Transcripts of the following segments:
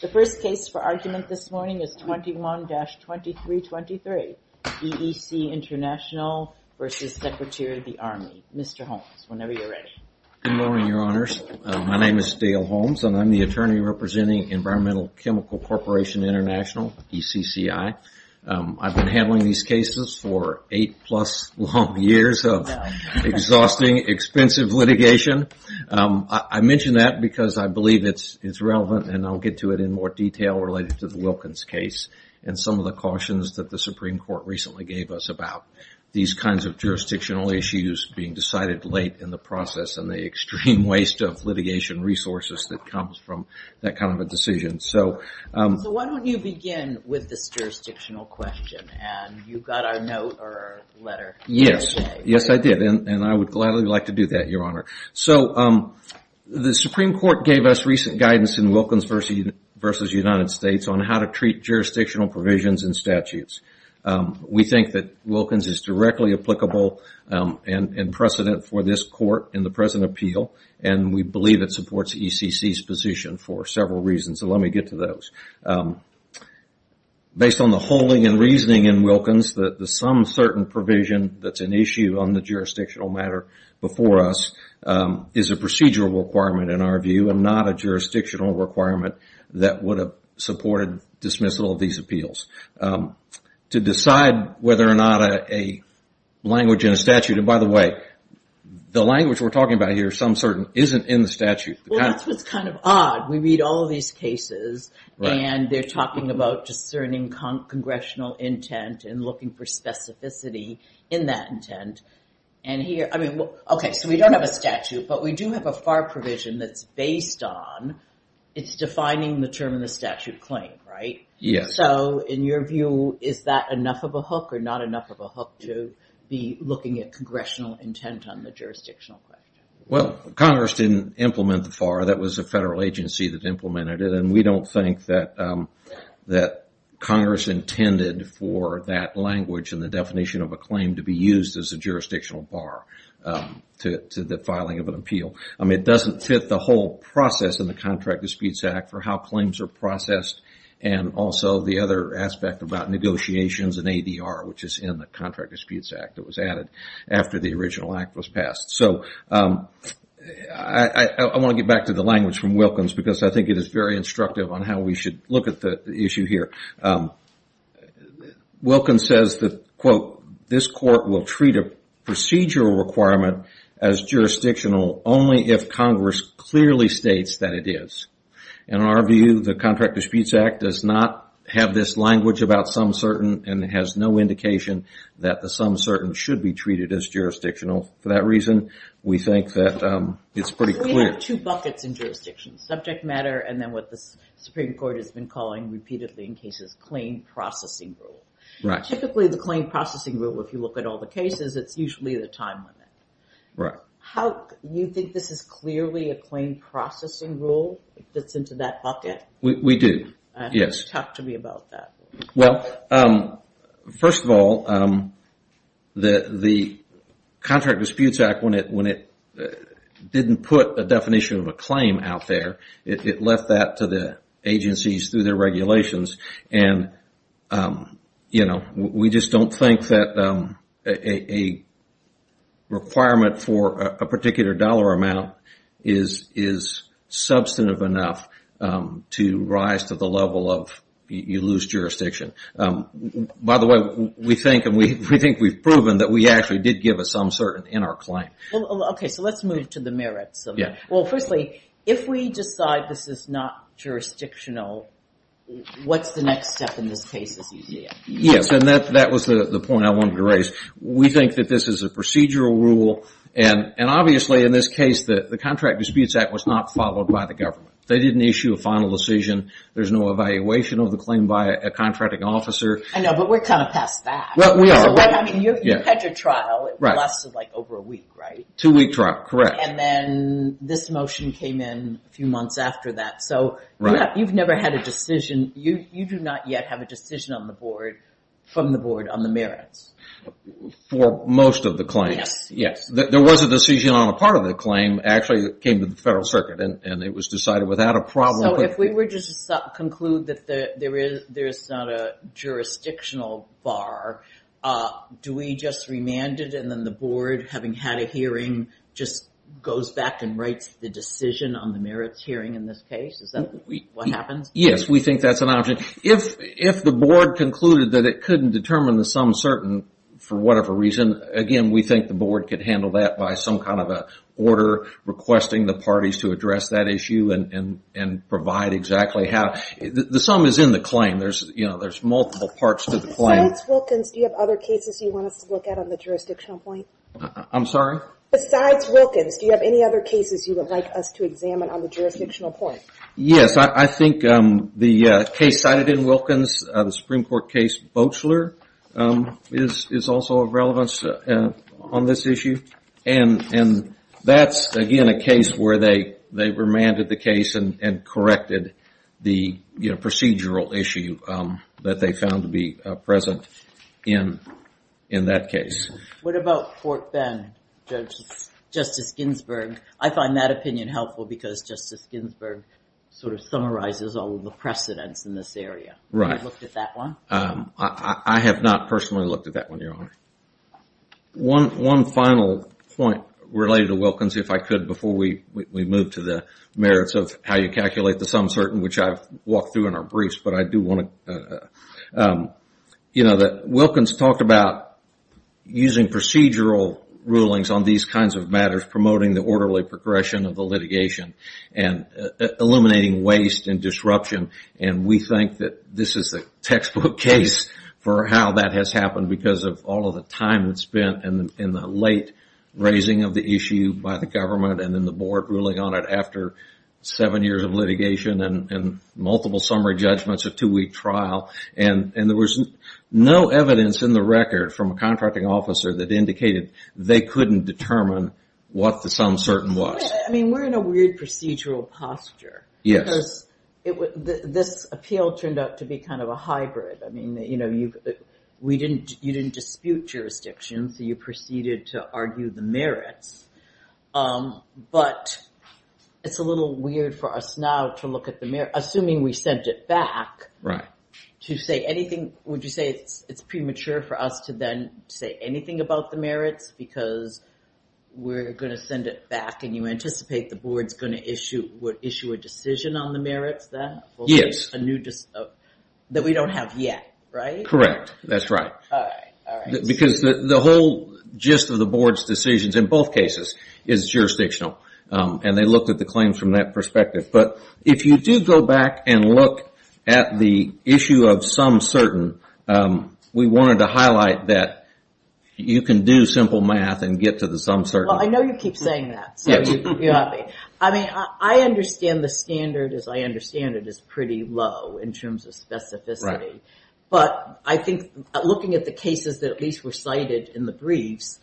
The first case for argument this morning is 21-2323, EEC International v. Secretary of the Army. Mr. Holmes, whenever you're ready. Good morning, Your Honors. My name is Dale Holmes, and I'm the attorney representing Environmental Chemical Corporation International, ECCI. I've been handling these cases for eight plus long years of exhausting, expensive litigation. I mention that because I believe it's relevant, and I'll get to it in more detail related to the Wilkins case, and some of the cautions that the Supreme Court recently gave us about these kinds of jurisdictional issues being decided late in the process, and the extreme waste of litigation resources that comes from that kind of a decision. So why don't you begin with this jurisdictional question, and you got our note or our letter. Yes, yes I did, and I would gladly like to do that, Your Honor. So the Supreme Court gave us recent guidance in Wilkins v. United States on how to treat jurisdictional provisions and statutes. We think that Wilkins is directly applicable and precedent for this court in the present appeal, and we believe it supports ECC's position for several reasons, so let me get to those. Based on the holding and reasoning in Wilkins, the some certain provision that's an issue on the jurisdictional matter before us is a procedural requirement in our view, and not a jurisdictional requirement that would have supported dismissal of these appeals. To decide whether or not a language in a statute, and by the way, the language we're talking about here, some certain, isn't in the statute. Well, that's what's kind of odd. We read all of these cases, and they're talking about discerning congressional intent and looking for specificity in that intent, and here, I mean, okay, so we don't have a statute, but we do have a FAR provision that's based on, it's defining the term in the statute claim, right? Yes. So in your view, is that enough of a hook or not enough of a hook to be looking at congressional intent on the jurisdictional question? Well, Congress didn't implement the FAR. That was a federal agency that implemented it, and we don't think that Congress intended for that language and the definition of a claim to be used as a jurisdictional bar to the filing of an appeal. I mean, it doesn't fit the whole process in the Contract of Speeds Act for how claims are processed, and also the other aspect about negotiations and ADR, which is in the Contract of Speeds Act that was added after the original act was passed. So I want to get back to the language from Wilkins because I think it is very instructive on how we should look at the issue here. Wilkins says that, quote, this court will treat a procedural requirement as jurisdictional only if Congress clearly states that it is. In our view, the Contract of Speeds Act does not have this language about some certain and has no indication that the some certain should be treated as jurisdictional. For that reason, we think that it's pretty clear. We have two buckets in jurisdiction, subject matter and then what the Supreme Court has been calling repeatedly in cases, claim processing rule. Right. Typically, the claim processing rule, if you look at all the cases, it's usually the time limit. Right. You think this is clearly a claim processing rule that's into that bucket? We do, yes. Talk to me about that. Well, first of all, the Contract of Speeds Act, when it didn't put a definition of a claim out there, it left that to the agencies through their regulations. We just don't think that a requirement for a particular dollar amount is substantive enough to rise to the level of you lose jurisdiction. By the way, we think and we think we've proven that we actually did give a some certain in our claim. Okay, so let's move to the merits. Yeah. Well, firstly, if we decide this is not jurisdictional, what's the next step in this case as you see it? Yes, and that was the point I wanted to raise. We think that this is a procedural rule and obviously, in this case, the Contract of Speeds Act was not followed by the government. They didn't issue a final decision. There's no evaluation of the claim by a contracting officer. I know, but we're kind of past that. Well, we are. I mean, you've had your trial. Right. It lasted like over a week, right? Two-week trial, correct. And then this motion came in a few months after that. So you've never had a decision. You do not yet have a decision on the board from the board on the merits. For most of the claims. Yes. There was a decision on a part of the claim actually that came to the Federal Circuit and it was decided without a problem. So if we were just to conclude that there is not a jurisdictional bar, do we just remand it and then the board, having had a hearing, just goes back and writes the decision on the merits hearing in this case? Is that what happens? Yes. We think that's an option. If the board concluded that it couldn't determine the sum certain for whatever reason, again, we think the board could handle that by some kind of an order requesting the parties to address that issue and provide exactly how. The sum is in the claim. There's multiple parts to the claim. Besides Wilkins, do you have other cases you want us to look at on the jurisdictional point? I'm sorry? Besides Wilkins, do you have any other cases you would like us to examine on the jurisdictional point? Yes. I think the case cited in Wilkins, the Supreme Court case Boechler, is also of relevance on this issue. That's, again, a case where they remanded the case and corrected the procedural issue that they found to be present in that case. What about Fort Bend, Justice Ginsburg? I find that opinion helpful because Justice Ginsburg sort of summarizes all of the precedents in this area. Right. Have you looked at that one? I have not personally looked at that one, Your Honor. One final point related to Wilkins, if I could, before we move to the merits of how you calculate the sum certain, which I've walked through in our briefs, but I do want to... You know, Wilkins talked about using procedural rulings on these kinds of matters, promoting the orderly progression of the litigation and eliminating waste and disruption. And we think that this is a textbook case for how that has happened because of all of the time that's spent in the late raising of the issue by the government and then the board ruling on it after seven years of litigation and multiple summary judgments of two-week trial. And there was no evidence in the record from a contracting officer that indicated they couldn't determine what the sum certain was. I mean, we're in a weird procedural posture. Yes. Because this appeal turned out to be kind of a hybrid. I mean, you know, you didn't dispute jurisdiction, so you proceeded to argue the merits. But it's a little weird for us now to look at the merits, assuming we sent it back. Right. Would you say it's premature for us to then say anything about the merits because we're going to send it back and you anticipate the board's going to issue a decision on the merits then? Yes. That we don't have yet, right? Correct. That's right. All right. Because the whole gist of the board's decisions in both cases is jurisdictional. And they looked at the claims from that perspective. But if you do go back and look at the issue of sum certain, we wanted to highlight that you can do simple math and get to the sum certain. Well, I know you keep saying that, so you got me. I mean, I understand the standard, as I understand it, is pretty low in terms of specificity. But I think looking at the cases that at least were cited in the briefs,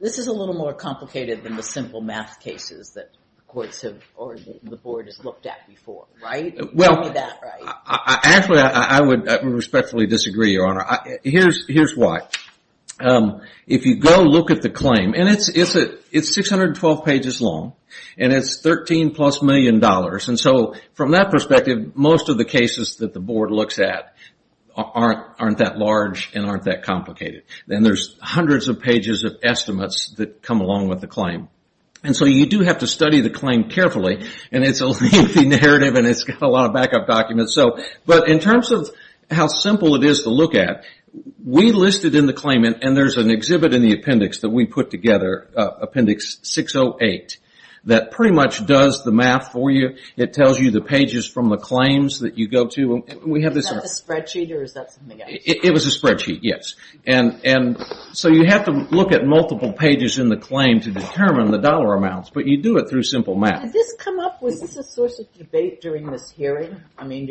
this is a little more complicated than the simple math cases that the courts or the board has looked at before, right? Well, actually, I would respectfully disagree, Your Honor. Here's why. If you go look at the claim, and it's 612 pages long, and it's $13 plus million. And so from that perspective, most of the cases that the board looks at aren't that large and aren't that complicated. And there's hundreds of pages of estimates that come along with the claim. And so you do have to study the claim carefully. And it's a lengthy narrative and it's got a lot of backup documents. But in terms of how simple it is to look at, we listed in the claim, and there's an exhibit in the appendix that we put together, Appendix 608, that pretty much does the math for you. It tells you the pages from the claims that you go to. Is that a spreadsheet or is that something else? It was a spreadsheet, yes. And so you have to look at multiple pages in the claim to determine the dollar amounts. But you do it through simple math. Did this come up? Was this a source of debate during this hearing? I mean,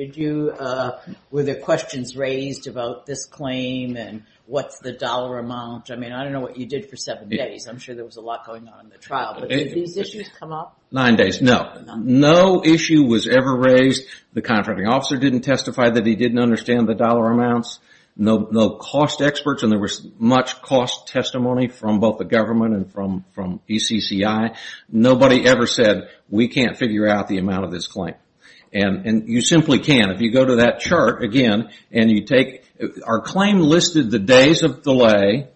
were there questions raised about this claim and what's the dollar amount? I mean, I don't know what you did for seven days. I'm sure there was a lot going on in the trial. But did these issues come up? Nine days. No. No issue was ever raised. The contracting officer didn't testify that he didn't understand the dollar amounts. No cost experts, and there was much cost testimony from both the government and from ECCI. Nobody ever said, we can't figure out the amount of this claim. And you simply can't. If you go to that chart again and you take our claim listed the days of delay,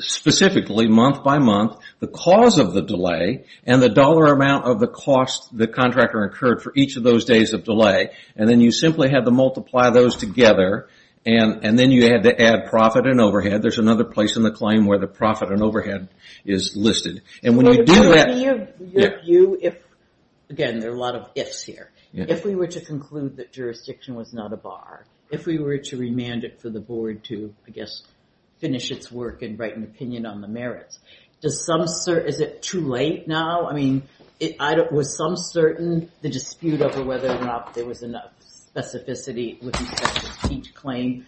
specifically month by month, the cause of the delay, and the dollar amount of the cost the contractor incurred for each of those days of delay, and then you simply had to multiply those together, and then you had to add profit and overhead. There's another place in the claim where the profit and overhead is listed. Again, there are a lot of ifs here. If we were to conclude that jurisdiction was not a bar, if we were to remand it for the board to, I guess, finish its work and write an opinion on the merits, is it too late now? I mean, was some certain the dispute over whether or not there was enough specificity with each claim,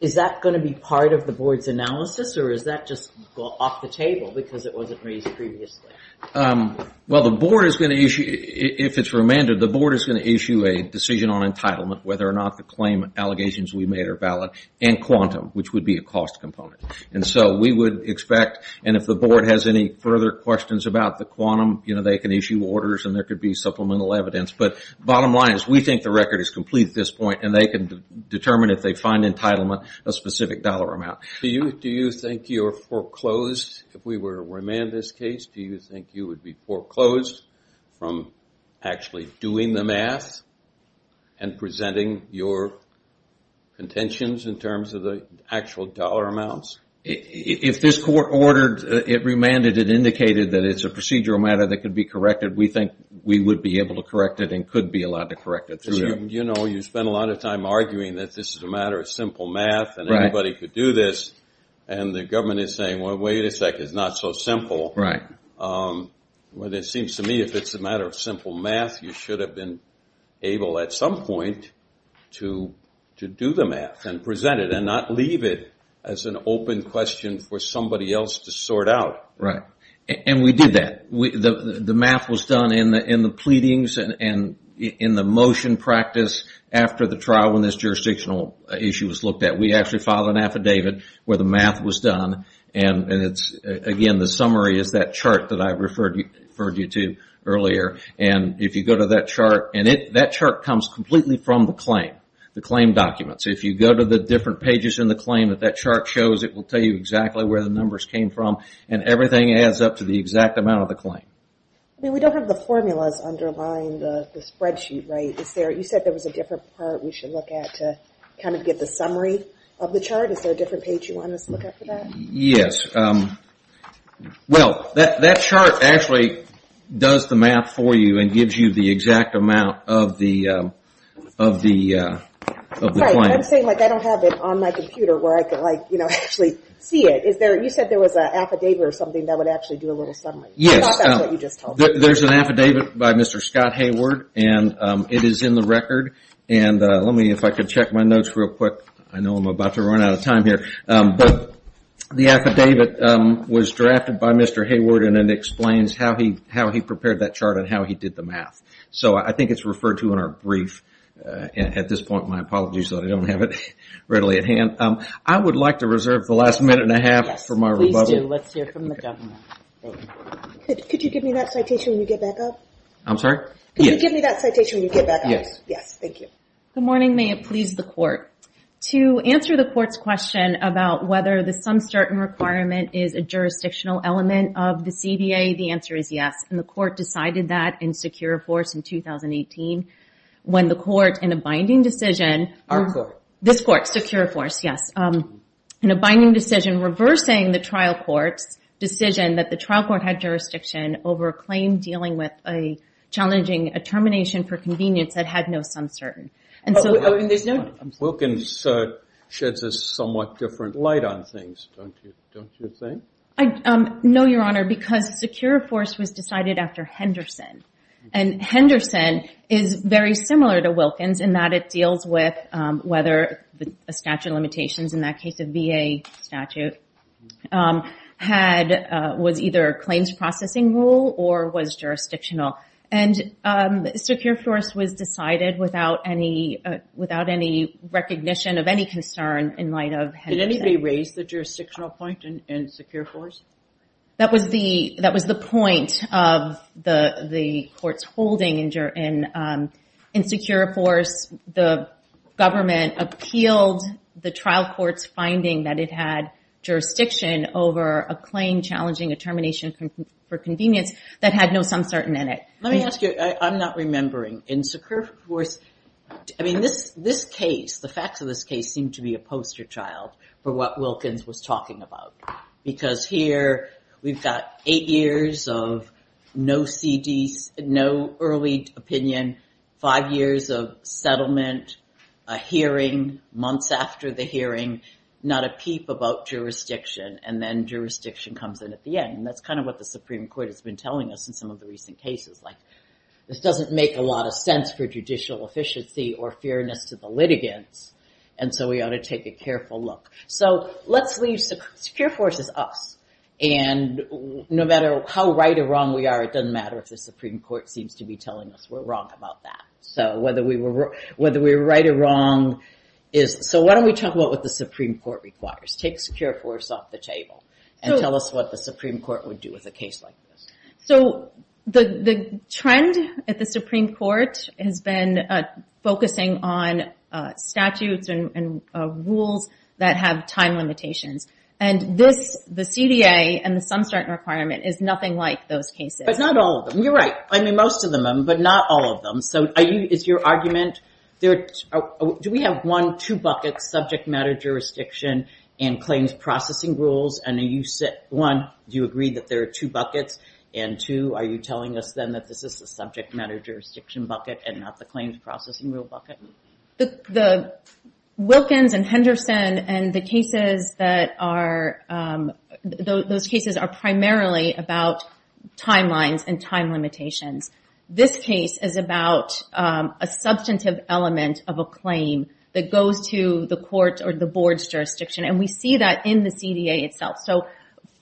is that going to be part of the board's analysis, or is that just off the table because it wasn't raised previously? Well, the board is going to issue, if it's remanded, the board is going to issue a decision on entitlement, whether or not the claim allegations we made are valid, and quantum, which would be a cost component. And so we would expect, and if the board has any further questions about the quantum, they can issue orders and there could be supplemental evidence. But bottom line is we think the record is complete at this point, and they can determine if they find entitlement, a specific dollar amount. Do you think you're foreclosed, if we were to remand this case, do you think you would be foreclosed from actually doing the math and presenting your contentions in terms of the actual dollar amounts? If this court ordered, it remanded, it indicated that it's a procedural matter that could be corrected, we think we would be able to correct it and could be allowed to correct it. You know, you spend a lot of time arguing that this is a matter of simple math and anybody could do this, and the government is saying, well, wait a second, it's not so simple. Well, it seems to me if it's a matter of simple math, you should have been able at some point to do the math and present it and not leave it as an open question for somebody else to sort out. And we did that. The math was done in the pleadings and in the motion practice after the trial, when this jurisdictional issue was looked at. We actually filed an affidavit where the math was done, and again, the summary is that chart that I referred you to earlier. And if you go to that chart, and that chart comes completely from the claim, the claim documents. If you go to the different pages in the claim that that chart shows, it will tell you exactly where the numbers came from, and everything adds up to the exact amount of the claim. I mean, we don't have the formulas underlying the spreadsheet, right? You said there was a different part we should look at to kind of get the summary of the chart. Is there a different page you want us to look at for that? Yes. Well, that chart actually does the math for you and gives you the exact amount of the claim. Right, but I'm saying I don't have it on my computer where I can actually see it. You said there was an affidavit or something that would actually do a little summary. Yes. I thought that's what you just told me. There's an affidavit by Mr. Scott Hayward, and it is in the record. And let me, if I could check my notes real quick. I know I'm about to run out of time here. But the affidavit was drafted by Mr. Hayward, and it explains how he prepared that chart and how he did the math. So I think it's referred to in our brief. At this point, my apologies that I don't have it readily at hand. I would like to reserve the last minute and a half for my rebuttal. Yes, please do. Let's hear from the governor. Could you give me that citation when you get back up? I'm sorry? Could you give me that citation when you get back up? Yes. Yes, thank you. Good morning. May it please the court. To answer the court's question about whether the sum certain requirement is a jurisdictional element of the CBA, the answer is yes. And the court decided that in Secure Force in 2018 when the court, in a binding decision. Our court. This court, Secure Force, yes. In a binding decision reversing the trial court's decision that the trial court had jurisdiction over a claim dealing with a challenging determination for convenience that had no sum certain. Wilkins sheds a somewhat different light on things, don't you think? No, Your Honor, because Secure Force was decided after Henderson. And Henderson is very similar to Wilkins in that it deals with whether a statute of natural limitations, in that case a VA statute, was either a claims processing rule or was jurisdictional. And Secure Force was decided without any recognition of any concern in light of Henderson. Did anybody raise the jurisdictional point in Secure Force? That was the point of the court's holding in Secure Force. The government appealed the trial court's finding that it had jurisdiction over a claim challenging a termination for convenience that had no sum certain in it. Let me ask you. I'm not remembering. In Secure Force, I mean, this case, the facts of this case, seem to be a poster child for what Wilkins was talking about. Because here we've got eight years of no early opinion, five years of settlement, a hearing months after the hearing, not a peep about jurisdiction, and then jurisdiction comes in at the end. And that's kind of what the Supreme Court has been telling us in some of the recent cases. Like, this doesn't make a lot of sense for judicial efficiency or fairness to the litigants, and so we ought to take a careful look. So let's leave Secure Force as us. And no matter how right or wrong we are, it doesn't matter if the Supreme Court seems to be telling us we're wrong about that. So whether we were right or wrong is, so why don't we talk about what the Supreme Court requires. Take Secure Force off the table and tell us what the Supreme Court would do with a case like this. So the trend at the Supreme Court has been focusing on statutes and rules that have time limitations. And this, the CDA and the sum certain requirement is nothing like those cases. But not all of them. You're right. I mean, most of them, but not all of them. So is your argument, do we have one, two buckets, subject matter jurisdiction and claims processing rules? One, do you agree that there are two buckets? And two, are you telling us then that this is the subject matter jurisdiction bucket and not the claims processing rule bucket? The Wilkins and Henderson and the cases that are, those cases are primarily about timelines and time limitations. This case is about a substantive element of a claim that goes to the court or the board's jurisdiction. And we see that in the CDA itself. So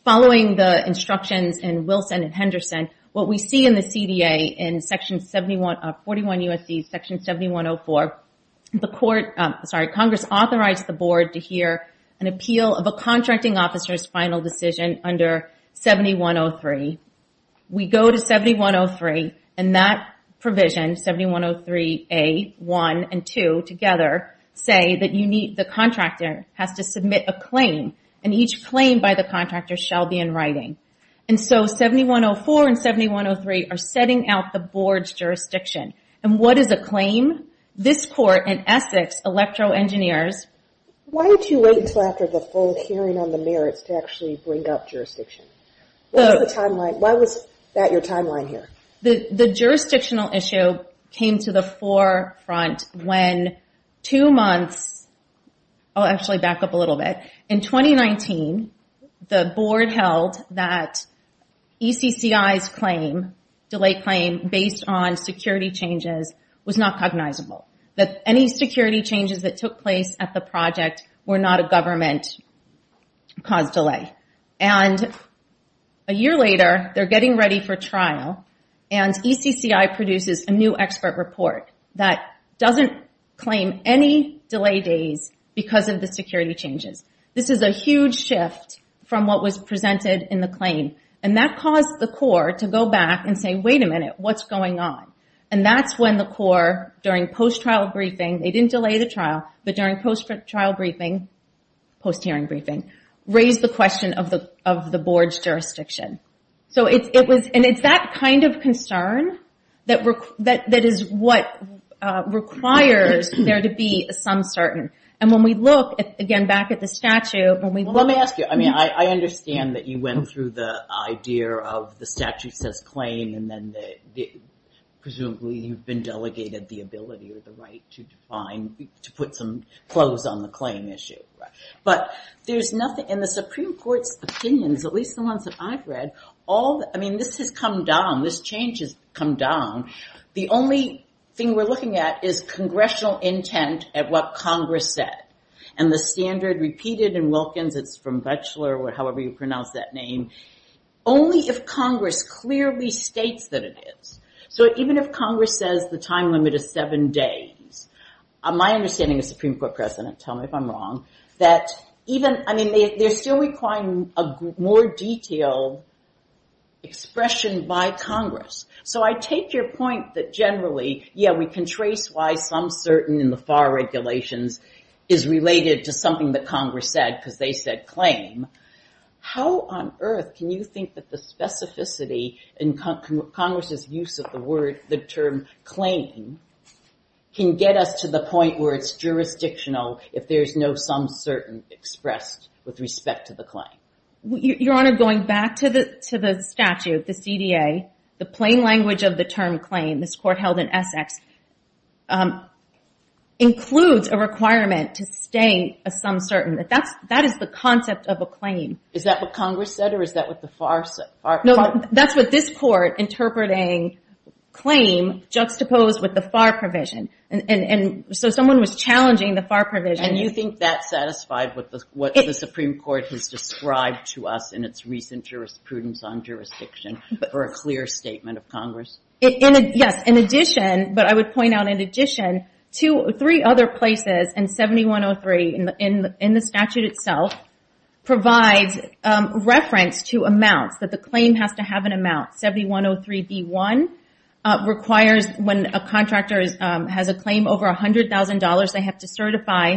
following the instructions in Wilson and Henderson, what we see in the CDA in section 71, 41 U.S.C., section 7104, the court, sorry, Congress authorizes the board to hear an appeal of a contracting officer's final decision under 7103. We go to 7103 and that provision, 7103A1 and 2 together, say that the contractor has to submit a claim. And each claim by the contractor shall be in writing. And so 7104 and 7103 are setting out the board's jurisdiction. And what is a claim? This court in Essex, Electro Engineers. Why did you wait until after the full hearing on the merits to actually bring up jurisdiction? What was the timeline? Why was that your timeline here? The jurisdictional issue came to the forefront when two months, I'll actually back up a little bit, in 2019 the board held that ECCI's claim, delay claim based on security changes was not cognizable. That any security changes that took place at the project were not a government-caused delay. And a year later they're getting ready for trial and ECCI produces a new expert report that doesn't claim any delay days because of the security changes. This is a huge shift from what was presented in the claim. And that caused the court to go back and say, wait a minute, what's going on? And that's when the court during post-trial briefing, they didn't delay the trial, but during post-trial briefing, post-hearing briefing, raised the question of the board's jurisdiction. And it's that kind of concern that is what requires there to be some certain. And when we look, again, back at the statute. Let me ask you, I mean, I understand that you went through the idea of the statute says claim and then presumably you've been delegated the ability or the right to define, to put some clothes on the claim issue. But there's nothing in the Supreme Court's opinions, at least the ones that I've read, all, I mean, this has come down, this change has come down. The only thing we're looking at is congressional intent at what Congress said. And the standard repeated in Wilkins, it's from Batchelor, or however you pronounce that name. Only if Congress clearly states that it is. So even if Congress says the time limit is seven days, my understanding of Supreme Court precedent, tell me if I'm wrong, that even, I mean, they're still requiring a more detailed expression by Congress. So I take your point that generally, yeah, we can trace why some certain in the FAR regulations is related to something that Congress said, because they said claim. How on earth can you think that the specificity in Congress's use of the word, the term claim, can get us to the point where it's jurisdictional if there's no some certain expressed with respect to the claim? Your Honor, going back to the statute, the CDA, the plain language of the term claim, this court held in Essex, includes a requirement to state a some certain. That is the concept of a claim. Is that what Congress said, or is that what the FAR said? No, that's what this court interpreting claim juxtaposed with the FAR provision. And so someone was challenging the FAR provision. And you think that satisfied what the Supreme Court has described to us in its recent jurisprudence on jurisdiction for a clear statement of Congress? Yes. In addition, but I would point out in addition to three other places and 7103 in the statute itself provides reference to amounts that the claim has to have an amount. 7103B1 requires when a contractor has a claim over $100,000, they have to certify,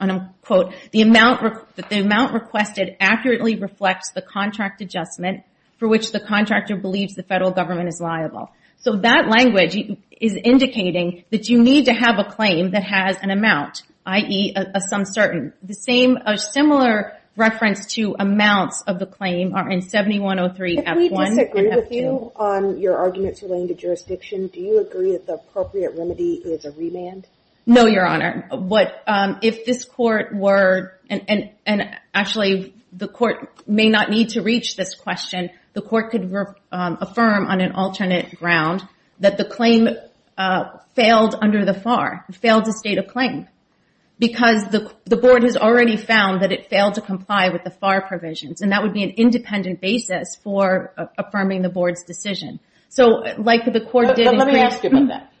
and I'll quote, the amount requested accurately reflects the contract adjustment for which the contractor believes the federal government is liable. So that language is indicating that you need to have a claim that has an amount, i.e., a some certain. A similar reference to amounts of the claim are in 7103F1 and F2. If we disagree with you on your arguments relating to jurisdiction, do you agree that the appropriate remedy is a remand? No, Your Honor. If this court were, and actually the court may not need to reach this question, the court could affirm on an alternate ground that the claim failed under the FAR, failed to state a claim, because the board has already found that it failed to comply with the FAR provisions. And that would be an independent basis for affirming the board's decision. So like the court did. Let me ask you about that.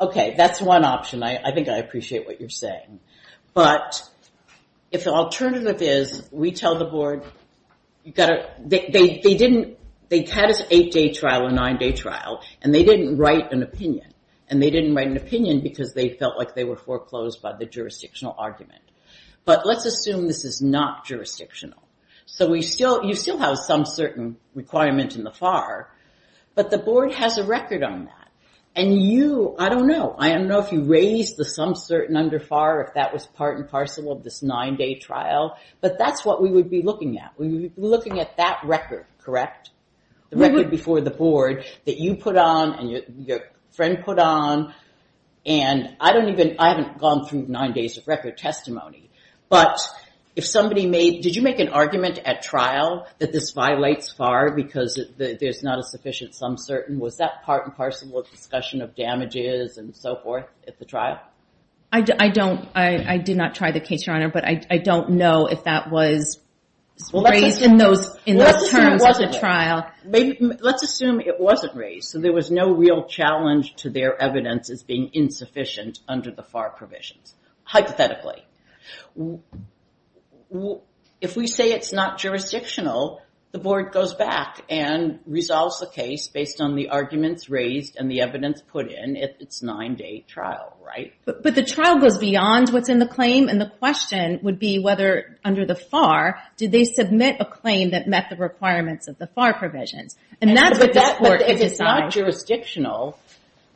Okay. That's one option. I think I appreciate what you're saying. But if the alternative is we tell the board, they had an eight-day trial, a nine-day trial, and they didn't write an opinion. And they didn't write an opinion because they felt like they were foreclosed by the jurisdictional argument. But let's assume this is not jurisdictional. So you still have some certain requirement in the FAR, but the board has a record on that. And you, I don't know. I don't know if you raised the some certain under FAR, if that was part and parcel of this nine-day trial. But that's what we would be looking at. We would be looking at that record, correct? The record before the board that you put on and your friend put on. And I don't even, I haven't gone through nine days of record testimony. But if somebody made, did you make an argument at trial that this violates FAR because there's not a sufficient some certain? Was that part and parcel of discussion of damages and so forth at the trial? I don't, I did not try the case, Your Honor, but I don't know if that was raised in those terms at the trial. Let's assume it wasn't raised. So there was no real challenge to their evidence as being insufficient under the FAR provisions, hypothetically. If we say it's not jurisdictional, the board goes back and resolves the case based on the arguments raised and the evidence put in if it's nine-day trial, right? But the trial goes beyond what's in the claim. And the question would be whether under the FAR, did they submit a claim that met the requirements of the FAR provisions? And that's what this court has decided. But if it's not jurisdictional,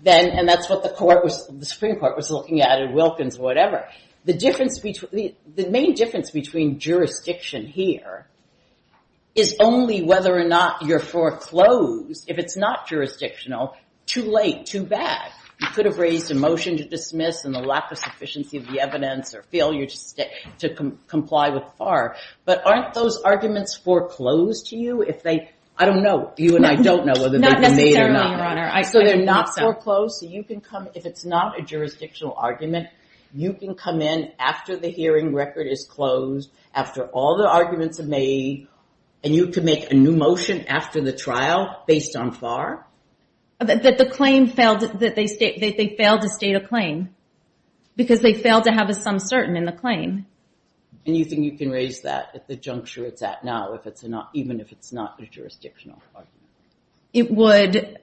then, the main difference between jurisdiction here is only whether or not you're foreclosed. If it's not jurisdictional, too late, too bad. You could have raised a motion to dismiss and the lack of sufficiency of the evidence or failure to comply with FAR. But aren't those arguments foreclosed to you if they, I don't know, you and I don't know whether they've been made or not. So they're not foreclosed. So you can come, if it's not a jurisdictional argument, you can come in after the hearing record is closed, after all the arguments are made, and you can make a new motion after the trial based on FAR? That the claim failed, that they failed to state a claim. Because they failed to have a sum certain in the claim. And you think you can raise that at the juncture it's at now, even if it's not a jurisdictional argument? It would,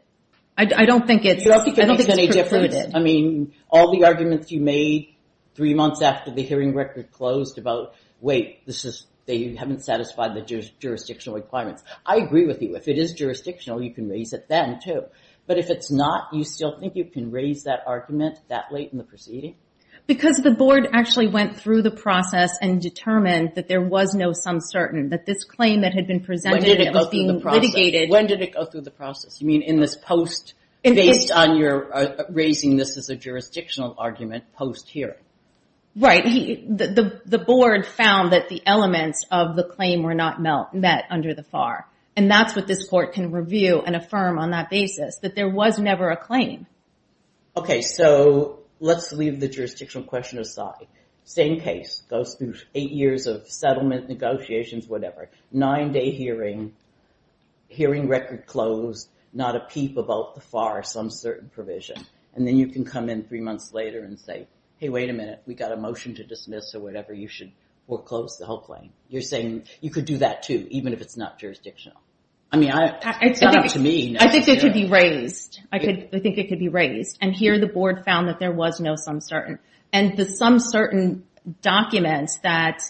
I don't think it's, I don't think it's precluded. I mean, all the arguments you made three months after the hearing record closed about, wait, this is, they haven't satisfied the jurisdictional requirements. I agree with you. If it is jurisdictional, you can raise it then too. But if it's not, you still think you can raise that argument that late in the proceeding? Because the board actually went through the process and determined that there was no sum certain, that this claim that had been presented, it was being litigated. When did it go through the process? You mean in this post, based on your raising this as a jurisdictional argument post hearing? Right. The board found that the elements of the claim were not met under the FAR. And that's what this court can review and affirm on that basis, that there was never a claim. Okay. So let's leave the jurisdictional question aside. Same case goes through eight years of settlement negotiations, whatever. Nine day hearing, hearing record closed, not a peep about the FAR, some certain provision. And then you can come in three months later and say, hey, wait a minute. We got a motion to dismiss or whatever. You should foreclose the whole claim. You're saying you could do that too, even if it's not jurisdictional. I mean, it's not up to me. I think it could be raised. I think it could be raised. And here the board found that there was no sum certain. And the sum certain documents that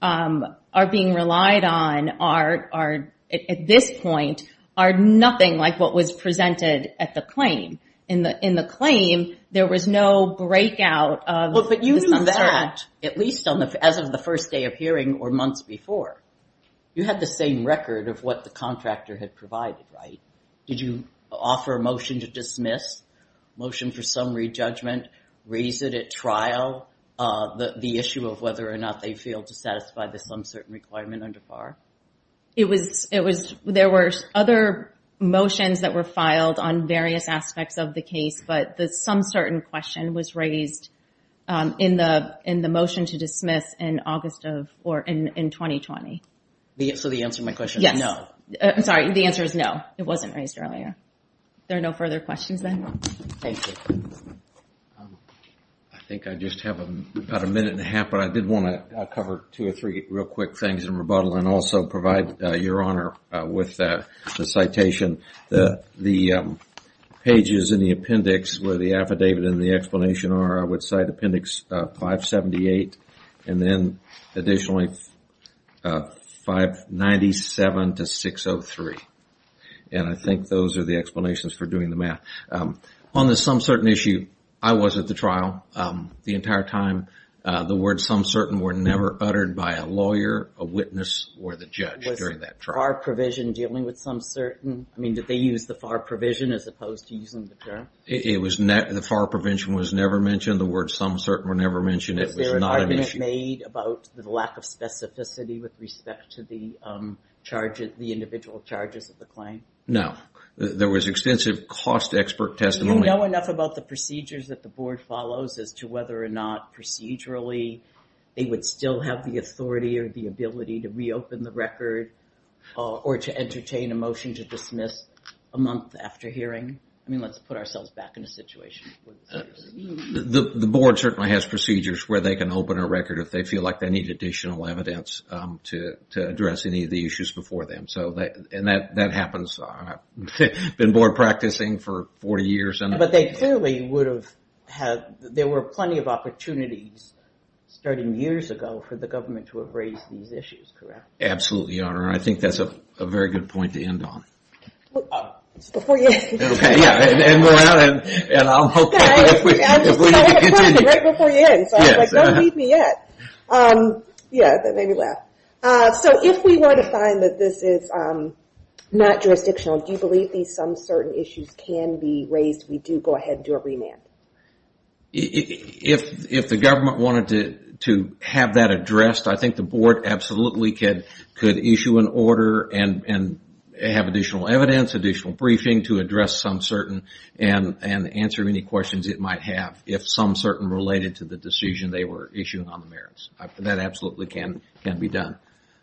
are being relied on are, at this point, are nothing like what was presented at the claim. In the claim, there was no breakout of the sum certain. But you knew that, at least as of the first day of hearing or months before. You had the same record of what the contractor had provided, right? Did you offer a motion to dismiss, motion for summary judgment, raise it at trial, the issue of whether or not they failed to satisfy the sum certain requirement under FAR? There were other motions that were filed on various aspects of the case, but the sum certain question was raised in the motion to dismiss in 2020. So the answer to my question is no? Yes. I'm sorry. The answer is no. It wasn't raised earlier. There are no further questions then? Thank you. I think I just have about a minute and a half, but I did want to cover two or three real quick things in rebuttal and also provide Your Honor with the citation. The pages in the appendix where the affidavit and the explanation are, I would cite appendix 578 and then additionally 597 to 603. And I think those are the explanations for doing the math. On the sum certain issue, I was at the trial the entire time. The words sum certain were never uttered by a lawyer, a witness, or the judge during that trial. Was FAR provision dealing with sum certain? I mean, did they use the FAR provision as opposed to using the term? The FAR provision was never mentioned. The words sum certain were never mentioned. It was not an issue. Was there an argument made about the lack of specificity with respect to the individual charges of the claim? No. There was extensive cost expert testimony. Do you know enough about the procedures that the board follows as to whether or not procedurally they would still have the authority or the ability to reopen the record or to entertain a motion to dismiss a month after hearing? I mean, let's put ourselves back in a situation. The board certainly has procedures where they can open a record if they feel like they need additional evidence to address any of the issues before them. And that happens. I've been board practicing for 40 years. But they clearly would have had – there were plenty of opportunities starting years ago for the government to have raised these issues, correct? Absolutely, Your Honor. And I think that's a very good point to end on. Before you end. Okay, yeah. And I'll hope that if we can continue. Right before you end. So I was like, don't leave me yet. Yeah, that made me laugh. So if we were to find that this is not jurisdictional, do you believe these some certain issues can be raised, we do go ahead and do a remand? If the government wanted to have that addressed, I think the board absolutely could issue an order and have additional evidence, additional briefing to address some certain and answer any questions it might have if some certain related to the decision they were issuing on the merits. That absolutely can be done.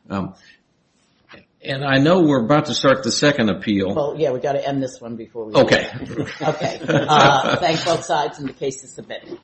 And I know we're about to start the second appeal. Well, yeah, we've got to end this one before we do that. Okay. Okay. Thanks both sides and the case is submitted.